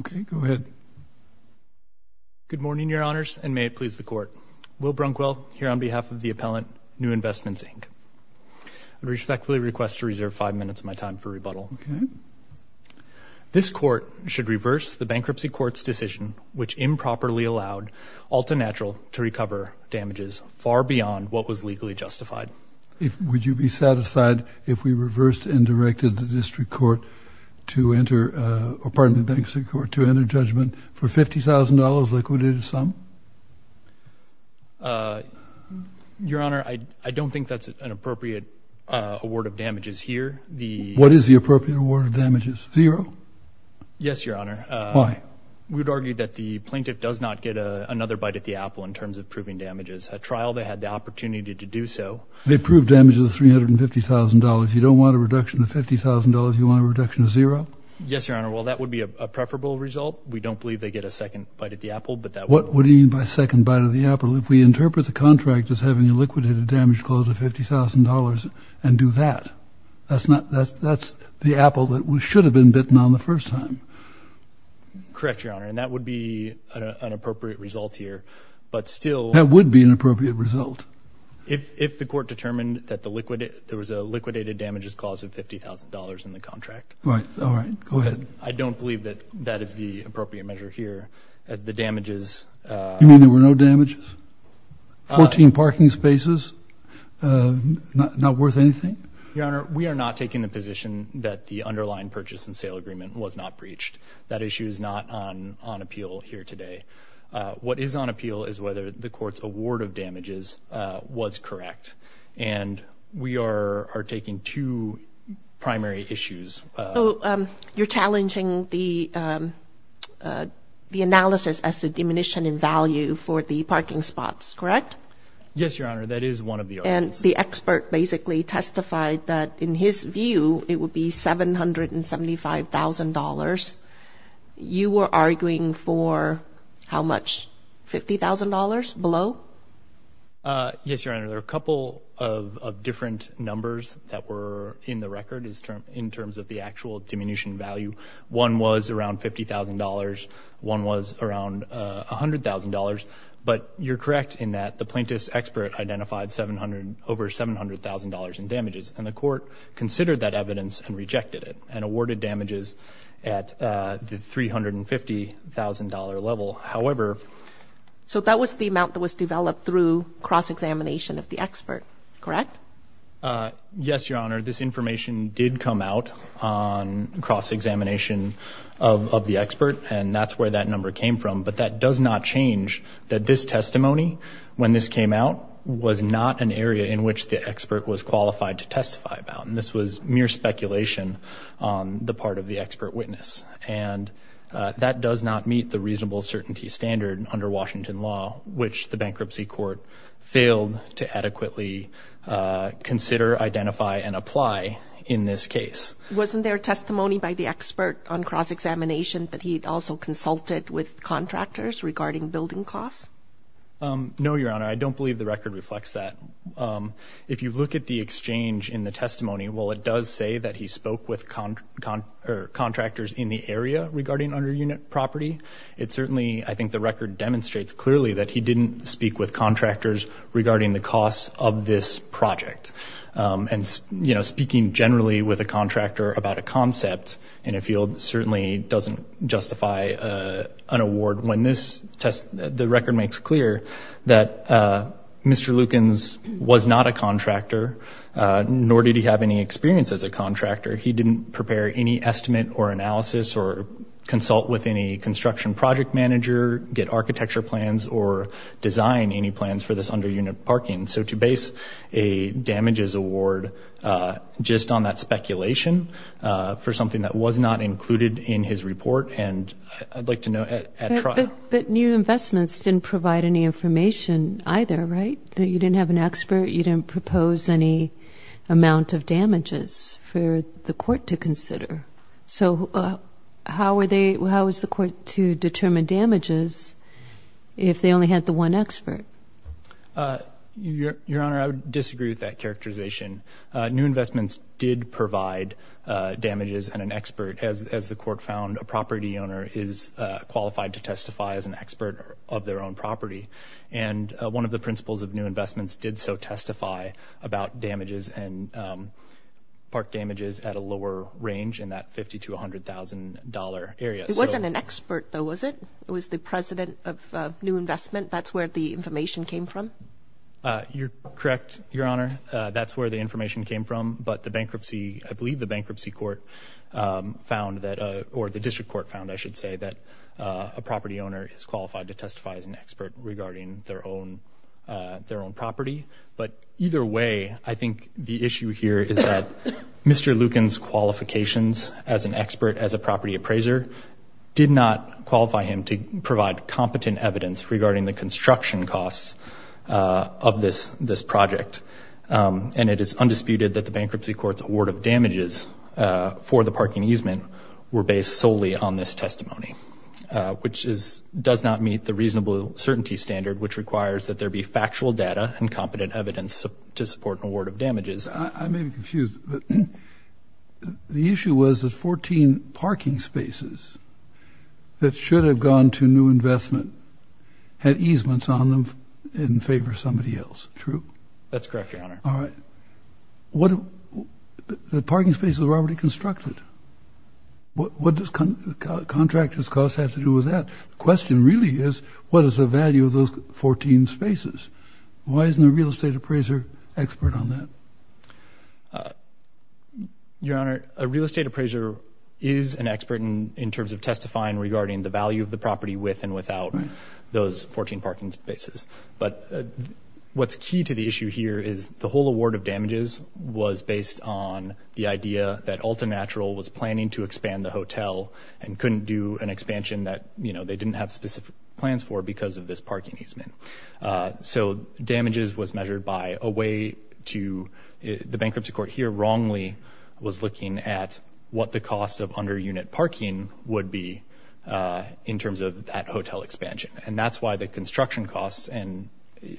Okay, go ahead. Good morning, Your Honors, and may it please the Court. Will Brunkwell, here on behalf of the appellant, New Investments Inc. I respectfully request to reserve five minutes of my time for rebuttal. This Court should reverse the Bankruptcy Court's decision which improperly allowed Altanatural to recover damages far beyond what was legally justified. Would you be satisfied if we reversed and directed the District Court to enter, or pardon me, Bankruptcy Court, to enter judgment for $50,000 liquidated sum? Your Honor, I don't think that's an appropriate award of damages here. What is the appropriate award of damages? Zero? Yes, Your Honor. Why? We would argue that the plaintiff does not get another bite at the apple in terms of proving damages. At trial, they had the opportunity to do so. They proved damages of $350,000. You don't want a reduction of $50,000? You want a reduction of zero? Yes, Your Honor. Well, that would be a preferable result. We don't believe they get a second bite at the apple, but that would— What do you mean by second bite at the apple? If we interpret the contract as having a liquidated damage clause of $50,000 and do that, that's the apple that should have been bitten on the first time. Correct, Your Honor, and that would be an appropriate result here. But still— That would be an appropriate result. If the Court determined that there was a liquidated damages clause of $50,000 in the contract. Right. All right. Go ahead. I don't believe that that is the appropriate measure here. As the damages— You mean there were no damages? 14 parking spaces? Not worth anything? Your Honor, we are not taking the position that the underlying purchase and sale agreement was not breached. That issue is not on appeal here today. What is on appeal is whether the So, you're challenging the analysis as to diminution in value for the parking spots, correct? Yes, Your Honor. That is one of the arguments. And the expert basically testified that in his view, it would be $775,000. You were arguing for how much? $50,000 below? Uh, yes, Your Honor. There are a couple of different numbers that were in the record in terms of the actual diminution value. One was around $50,000. One was around $100,000. But you're correct in that the plaintiff's expert identified over $700,000 in damages. And the Court considered that evidence and rejected it and awarded damages at the $350,000 level. However... So that was the amount that was developed through cross-examination of the expert, correct? Yes, Your Honor. This information did come out on cross-examination of the expert. And that's where that number came from. But that does not change that this testimony, when this came out, was not an area in which the expert was qualified to testify about. And this was mere speculation on the part of the expert witness. And that does not meet the reasonable certainty standard under Washington law, which the Bankruptcy Court failed to adequately consider, identify, and apply in this case. Wasn't there testimony by the expert on cross-examination that he'd also consulted with contractors regarding building costs? No, Your Honor. I don't believe the record reflects that. If you look at the exchange in the testimony, while it does say that he spoke with contractors in the area regarding under-unit property, it certainly, I think the record demonstrates clearly that he didn't speak with contractors regarding the costs of this project. And, you know, speaking generally with a contractor about a concept in a field certainly doesn't justify an award. When this test, the record makes clear that Mr. Lukens was not a contractor, nor did he have any experience as a contractor. He didn't prepare any estimate or analysis or consult with any construction project manager, get architecture plans, or design any plans for this under-unit parking. So to base a damages award just on that speculation for something that was not included in his report, and I'd like to know at trial. But new investments didn't provide any information either, right? You didn't have an expert, you didn't propose any amount of damages for the court to consider. So how are they, how is the court to determine damages if they only had the one expert? Your Honor, I would disagree with that characterization. New investments did provide damages and an expert, as the court found a property owner is qualified to testify as an expert of their own property. And one of the principles of new investments did so testify about damages and park damages at a lower range in that $50,000 to $100,000 area. It wasn't an expert though, was it? It was the president of new investment, that's where the information came from? You're correct, Your Honor. That's where the information came from. But the bankruptcy, I believe the bankruptcy court found that, or the district court found, I should say, that a property owner is qualified to testify as an expert. Regarding their own property. But either way, I think the issue here is that Mr. Lucan's qualifications as an expert, as a property appraiser, did not qualify him to provide competent evidence regarding the construction costs of this project. And it is undisputed that the bankruptcy court's award of damages for the parking easement were based solely on this testimony. Which does not meet the reasonable certainty standard, which requires that there be factual data and competent evidence to support an award of damages. I may be confused, but the issue was that 14 parking spaces that should have gone to new investment had easements on them in favor of somebody else. True? That's correct, Your Honor. All right. The parking spaces were already constructed. What does contractor's costs have to do with that? The question really is, what is the value of those 14 spaces? Why isn't a real estate appraiser expert on that? Your Honor, a real estate appraiser is an expert in terms of testifying regarding the value of the property with and without those 14 parking spaces. But what's key to the issue here is the whole award of damages was based on the idea that Alta Natural was planning to expand the hotel and couldn't do an expansion that, you know, they didn't have specific plans for because of this parking easement. So damages was measured by a way to, the bankruptcy court here wrongly was looking at what the cost of under-unit parking would be in terms of that hotel expansion. And that's why the construction costs, and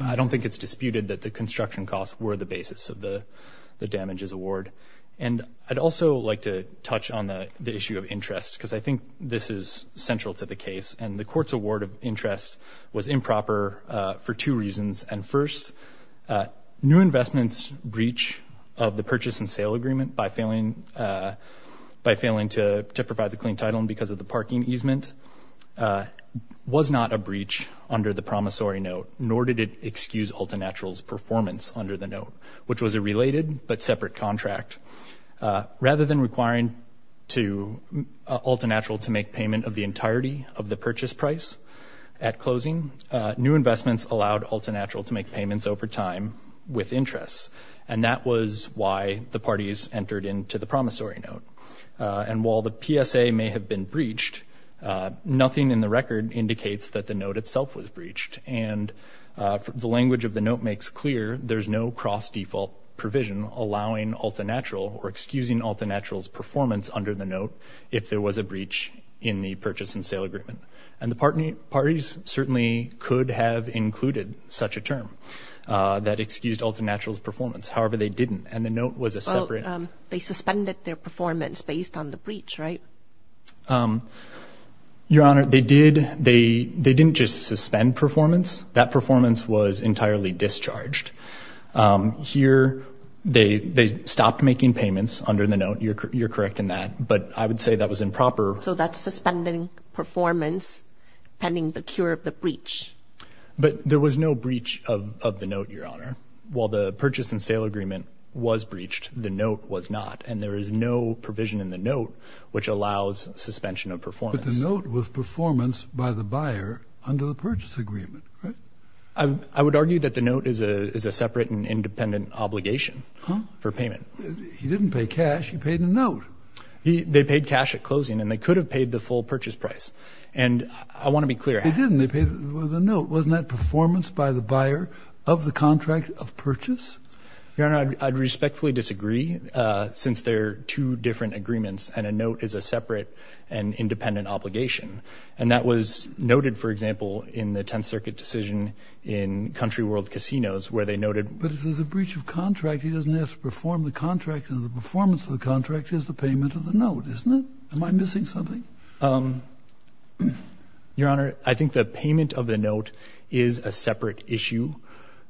I don't think it's disputed that construction costs were the basis of the damages award. And I'd also like to touch on the issue of interest, because I think this is central to the case. And the court's award of interest was improper for two reasons. And first, new investments breach of the purchase and sale agreement by failing to provide the clean title and because of the parking easement was not a breach under the promissory note, nor did it excuse Alta Natural's performance under the note, which was a related but separate contract. Rather than requiring Alta Natural to make payment of the entirety of the purchase price at closing, new investments allowed Alta Natural to make payments over time with interest. And that was why the parties entered into the promissory note. And while the PSA may have been breached, nothing in the record indicates that the note itself was breached. And the language of the note makes clear, there's no cross-default provision allowing Alta Natural or excusing Alta Natural's performance under the note if there was a breach in the purchase and sale agreement. And the parties certainly could have included such a term that excused Alta Natural's performance. However, they didn't. And the note was a separate... Well, they suspended their performance based on the breach, right? Um, Your Honor, they did. They didn't just suspend performance. That performance was entirely discharged. Here, they stopped making payments under the note. You're correct in that. But I would say that was improper. So that's suspending performance pending the cure of the breach. But there was no breach of the note, Your Honor. While the purchase and sale agreement was breached, the note was not. And there is no provision in the note which allows suspension of performance. But the note was performance by the buyer under the purchase agreement, right? I would argue that the note is a separate and independent obligation for payment. He didn't pay cash. He paid a note. They paid cash at closing. And they could have paid the full purchase price. And I want to be clear. They didn't. They paid the note. Wasn't that performance by the buyer of the contract of purchase? Your Honor, I'd respectfully disagree, since they're two different agreements. And a note is a separate and independent obligation. And that was noted, for example, in the Tenth Circuit decision in Country World Casinos, where they noted. But if there's a breach of contract, he doesn't have to perform the contract. And the performance of the contract is the payment of the note, isn't it? Am I missing something? Your Honor, I think the payment of the note is a separate issue,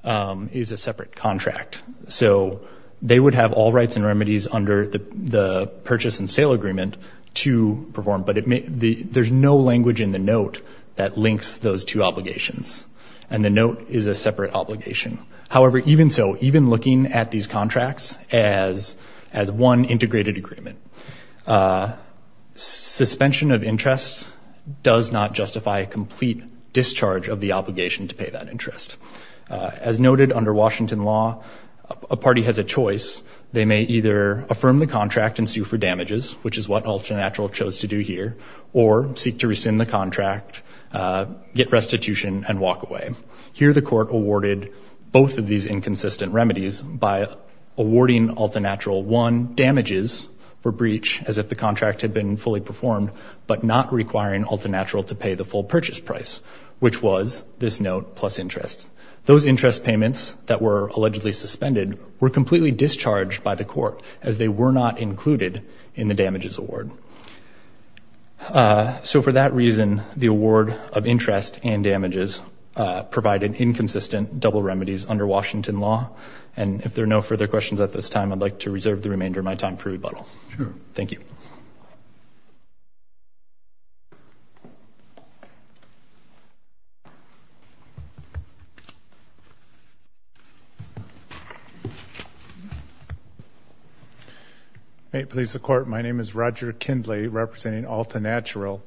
is a separate contract. So they would have all rights and remedies under the purchase and sale agreement to perform. But there's no language in the note that links those two obligations. And the note is a separate obligation. However, even so, even looking at these contracts as one integrated agreement, suspension of interest does not justify a complete discharge of the obligation to pay that interest. As noted under Washington law, a party has a choice. They may either affirm the contract and sue for damages, which is what Altenatural chose to do here, or seek to rescind the contract, get restitution, and walk away. Here, the court awarded both of these inconsistent remedies by awarding Altenatural one damages for breach, as if the contract had been fully performed, but not requiring Altenatural to pay the full purchase price, which was this note plus interest. Those interest payments that were allegedly suspended were completely discharged by the court as they were not included in the damages award. So for that reason, the award of interest and damages provided inconsistent double remedies under Washington law. And if there are no further questions at this time, I'd like to reserve the remainder of my time for rebuttal. Sure. Thank you. May it please the court. My name is Roger Kindley, representing Altenatural.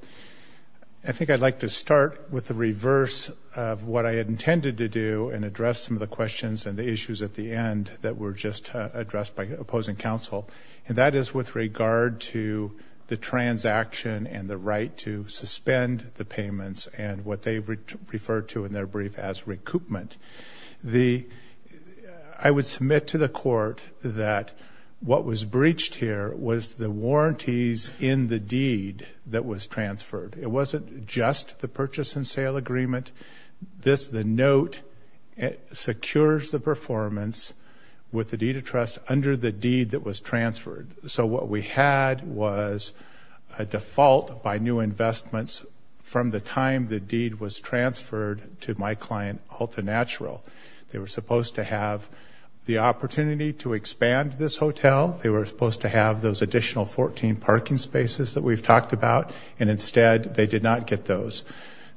I think I'd like to start with the reverse of what I had intended to do and address some of the questions and the issues at the end that were just addressed by opposing counsel. And that is with regard to the transaction and the right to suspend the payments and what they referred to in their brief as recoupment. I would submit to the court that what was breached here was the warranties in the deed that was transferred. It wasn't just the purchase and sale agreement. Under the deed that was transferred. So what we had was a default by new investments from the time the deed was transferred to my client, Altenatural. They were supposed to have the opportunity to expand this hotel. They were supposed to have those additional 14 parking spaces that we've talked about. And instead, they did not get those.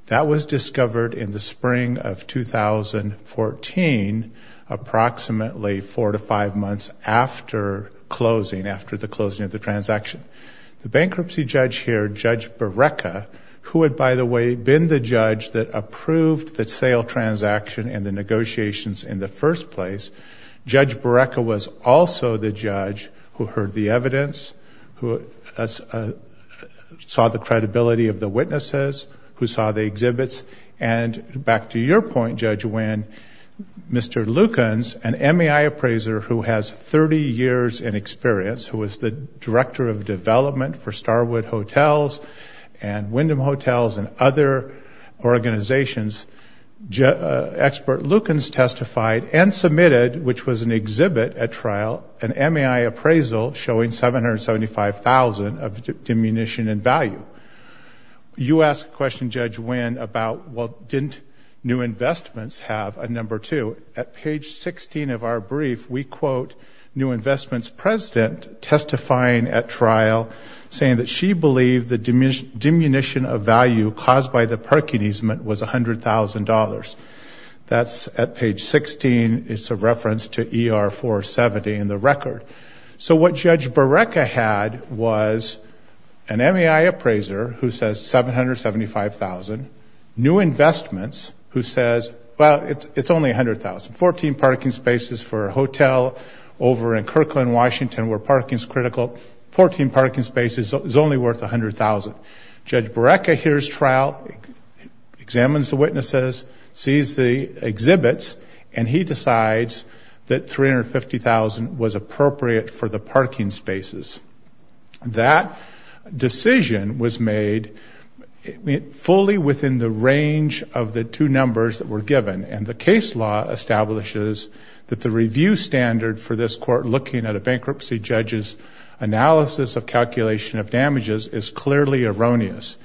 That was discovered in the spring of 2014, approximately four to five months after closing, after the closing of the transaction. The bankruptcy judge here, Judge Barreca, who had, by the way, been the judge that approved the sale transaction and the negotiations in the first place. Judge Barreca was also the judge who heard the evidence, who saw the credibility of the witnesses, who saw the exhibits. And back to your point, Judge Winn, Mr. Lukens, an MAI appraiser who has 30 years in experience, who was the director of development for Starwood Hotels and Wyndham Hotels and other organizations, expert Lukens testified and submitted, which was an exhibit at trial, an MAI appraisal showing $775,000 of diminution in value. But you asked a question, Judge Winn, about, well, didn't New Investments have a number two? At page 16 of our brief, we quote New Investments president testifying at trial saying that she believed the diminution of value caused by the parking easement was $100,000. That's at page 16. It's a reference to ER 470 in the record. So what Judge Barreca had was an MAI appraiser who says $775,000, New Investments who says, well, it's only $100,000. 14 parking spaces for a hotel over in Kirkland, Washington, where parking is critical. 14 parking spaces is only worth $100,000. Judge Barreca hears trial, examines the witnesses, sees the exhibits, and he decides that $350,000 was appropriate for the parking spaces. That decision was made fully within the range of the two numbers that were given. And the case law establishes that the review standard for this court looking at a bankruptcy judge's analysis of calculation of damages is clearly erroneous.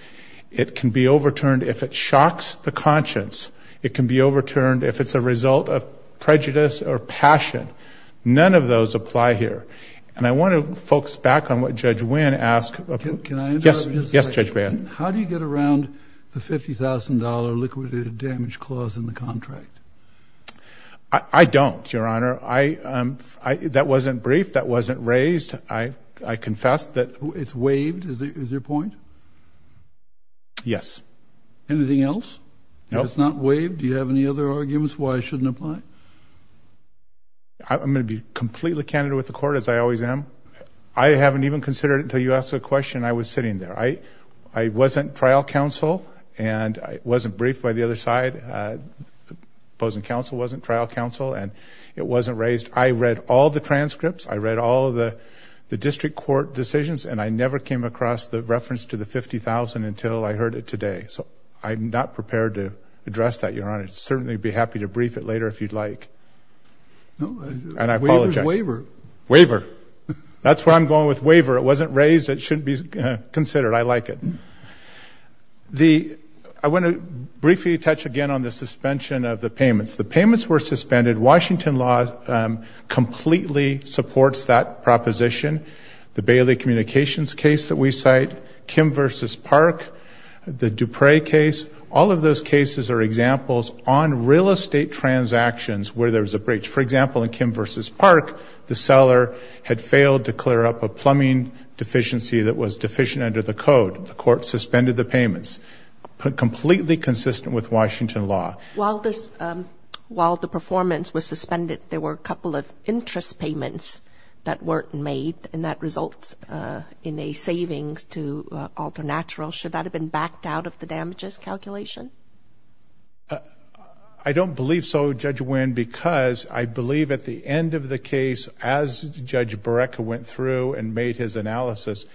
It can be overturned if it shocks the conscience. It can be overturned if it's a result of prejudice or passion. None of those apply here. And I want to focus back on what Judge Winn asked. Can I interrupt? Yes. Yes, Judge Barreca. How do you get around the $50,000 liquidated damage clause in the contract? I don't, Your Honor. That wasn't brief. That wasn't raised. I confess that. It's waived, is your point? Yes. Anything else? No. It's not waived. Do you have any other arguments why it shouldn't apply? I'm going to be completely candid with the court, as I always am. I haven't even considered it until you asked the question. I was sitting there. I wasn't trial counsel. And I wasn't briefed by the other side. Opposing counsel wasn't trial counsel. And it wasn't raised. I read all the transcripts. I read all of the district court decisions. And I never came across the reference to the $50,000 until I heard it today. So I'm not prepared to address that, Your Honor. I'd certainly be happy to brief it later if you'd like. And I apologize. Waiver. Waiver. That's where I'm going with waiver. It wasn't raised. It shouldn't be considered. I like it. I want to briefly touch again on the suspension of the payments. The payments were suspended. Washington law completely supports that proposition. The Bailey Communications case that we cite, Kim versus Park, the Dupre case, all of those cases are examples on real estate transactions where there was a breach. For example, in Kim versus Park, the seller had failed to clear up a plumbing deficiency that was deficient under the code. The court suspended the payments. Completely consistent with Washington law. While the performance was suspended, there were a couple of interest payments that weren't made. And that results in a savings to Alternatural. Should that have been backed out of the damages calculation? Uh, I don't believe so, Judge Winn, because I believe at the end of the case, as Judge Barreca went through and made his analysis,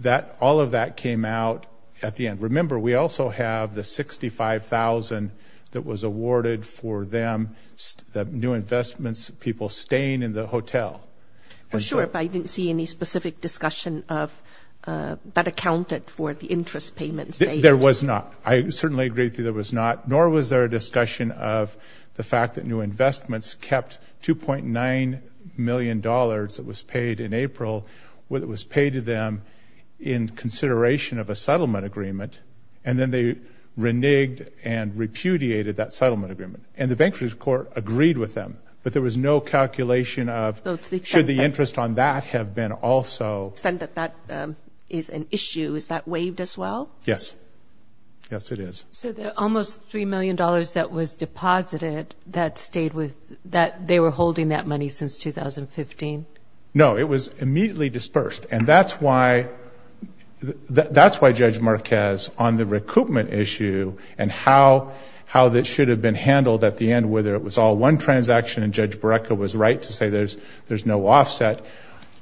that all of that came out at the end. Remember, we also have the $65,000 that was awarded for them, the new investments, people staying in the hotel. Well, sure, but I didn't see any specific discussion of that accounted for the interest payments. There was not. I certainly agree that there was not. Nor was there a discussion of the fact that new investments kept $2.9 million that was paid in April. What was paid to them in consideration of a settlement agreement. And then they reneged and repudiated that settlement agreement. And the bankruptcy court agreed with them. But there was no calculation of should the interest on that have been also. To the extent that that is an issue, is that waived as well? Yes. Yes, it is. So the almost $3 million that was deposited, they were holding that money since 2015? No, it was immediately dispersed. And that's why Judge Marquez, on the recoupment issue, and how that should have been handled at the end, whether it was all one transaction and Judge Barreca was right to say there's no offset.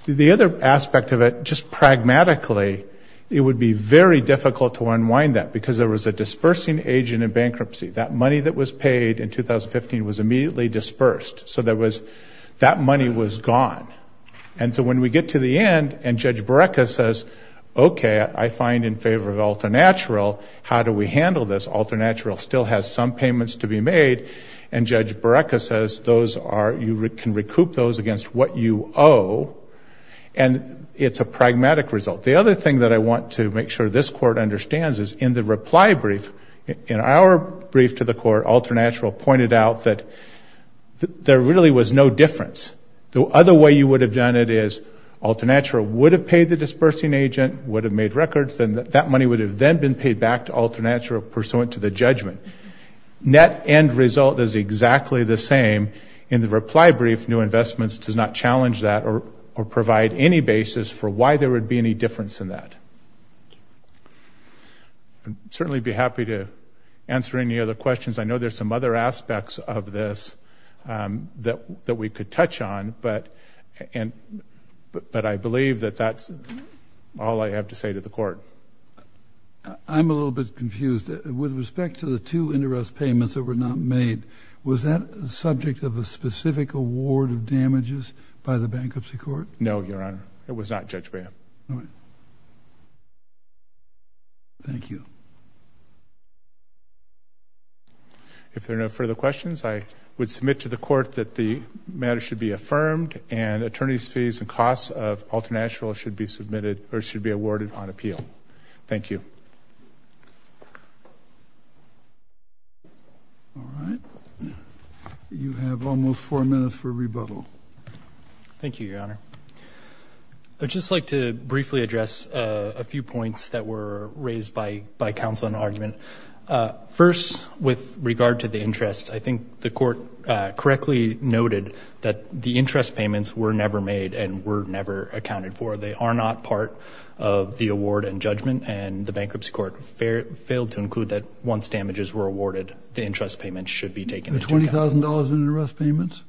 The other aspect of it, just pragmatically, it would be very difficult to unwind that because there was a dispersing agent in bankruptcy. That money that was paid in 2015 was immediately dispersed. So that money was gone. And so when we get to the end and Judge Barreca says, OK, I find in favor of Alternatural, how do we handle this? Alternatural still has some payments to be made. And Judge Barreca says you can recoup those against what you owe. And it's a pragmatic result. The other thing that I want to make sure this Court understands is in the reply brief, in our brief to the Court, Alternatural pointed out that there really was no difference. The other way you would have done it is Alternatural would have paid the dispersing agent, would have made records, and that money would have then been paid back to Alternatural pursuant to the judgment. Net end result is exactly the same. In the reply brief, New Investments does not challenge that or provide any basis for why there would be any difference in that. I'd certainly be happy to answer any other questions. I know there's some other aspects of this that we could touch on, but I believe that that's all I have to say to the Court. I'm a little bit confused. With respect to the two interest payments that were not made, was that the subject of a specific award of damages by the Bankruptcy Court? No, Your Honor. It was not, Judge Barreca. Thank you. If there are no further questions, I would submit to the Court that the matter should be affirmed and attorneys' fees and costs of Alternatural should be awarded on appeal. Thank you. All right. You have almost four minutes for rebuttal. Thank you, Your Honor. I'd just like to briefly address a few points that were raised by counsel in the argument. First, with regard to the interest, I think the Court correctly noted that the interest payments were never made and were never accounted for. They are not part of the award and judgment, and the Bankruptcy Court failed to include that once damages were awarded, the interest payments should be taken into account. The $20,000 in arrest payments?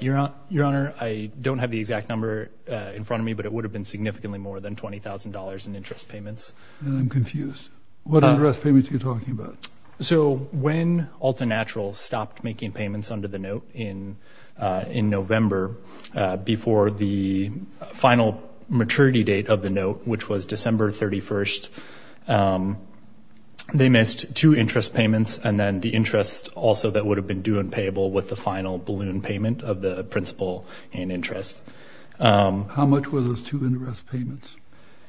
Your Honor, I don't have the exact number in front of me, but it would have been significantly more than $20,000 in interest payments. And I'm confused. What arrest payments are you talking about? So when Alternatural stopped making payments under the note in November before the final maturity date of the note, which was December 31st, they missed two interest payments, and then the interest also that would have been due and payable with the final balloon payment of the principal in interest. How much were those two interest payments?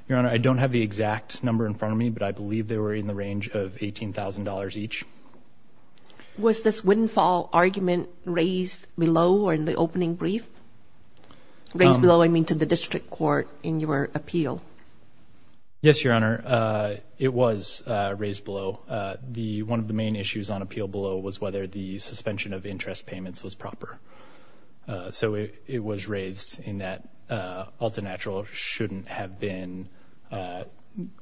Your Honor, I don't have the exact number in front of me, but I believe they were in the range of $18,000 each. Was this windfall argument raised below or in the opening brief? Raised below, I mean, to the District Court in your appeal? Yes, Your Honor, it was raised below. One of the main issues on appeal below was whether the suspension of interest payments was proper. So it was raised in that Alternatural shouldn't have been,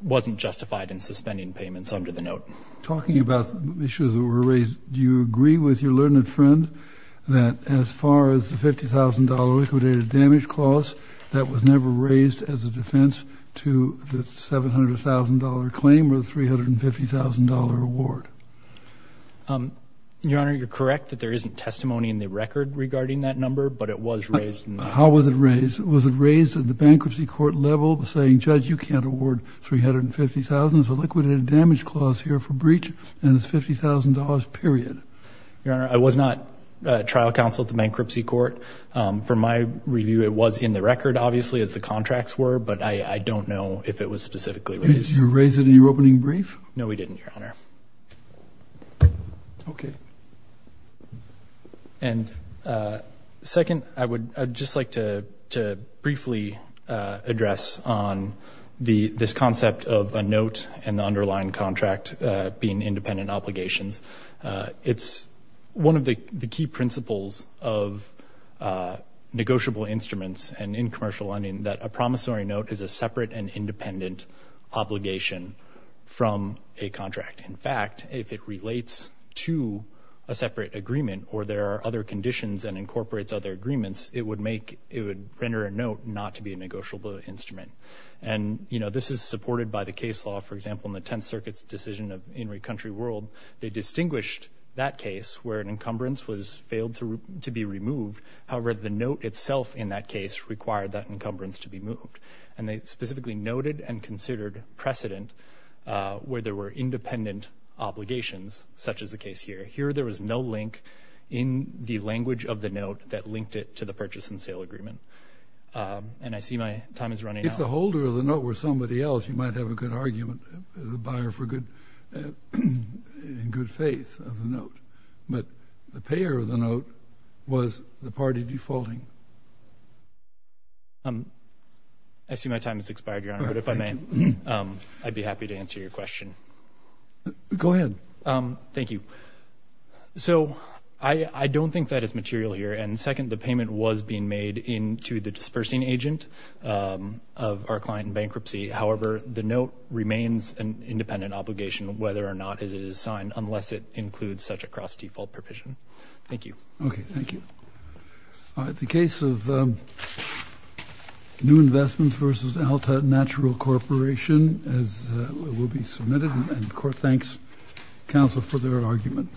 wasn't justified in suspending payments under the note. Talking about the issues that were raised, do you agree with your learned friend that as far as the $50,000 liquidated damage clause, that was never raised as a defense to the $700,000 claim or the $350,000 award? Your Honor, you're correct that there isn't testimony in the record regarding that number, but it was raised. How was it raised? Was it raised at the bankruptcy court level by saying, Judge, you can't award $350,000, it's a liquidated damage clause here for breach and it's $50,000, period? Your Honor, I was not trial counsel at the bankruptcy court. From my review, it was in the record, obviously, as the contracts were, but I don't know if it was specifically raised. Did you raise it in your opening brief? No, we didn't, Your Honor. Okay. And second, I would just like to briefly address on this concept of a note and the underlying contract being independent obligations. It's one of the key principles of negotiable instruments and in commercial lending that a promissory note is a separate and independent obligation from a contract. In fact, if it relates to a separate agreement or there are other conditions and incorporates other agreements, it would make, it would render a note not to be a negotiable instrument. And, you know, this is supported by the case law. For example, in the Tenth Circuit's decision of In re Country World, they distinguished that case where an encumbrance was failed to be removed. However, the note itself in that case required that encumbrance to be moved. And they specifically noted and considered precedent where there were independent obligations, such as the case here. Here, there was no link in the language of the note that linked it to the purchase and sale agreement. And I see my time is running out. If the holder of the note were somebody else, you might have a good argument, the buyer for good, in good faith of the note. But the payer of the note was the party defaulting. I see my time has expired, Your Honor, but if I may, I'd be happy to answer your question. Go ahead. Thank you. So I don't think that is material here. And second, the payment was being made into the dispersing agent of our client in bankruptcy. However, the note remains an independent obligation, whether or not it is signed, unless it includes such a cross-default provision. Thank you. Okay, thank you. All right, the case of New Investments v. Alta Natural Corporation as it will be submitted, and the court thanks counsel for their argument.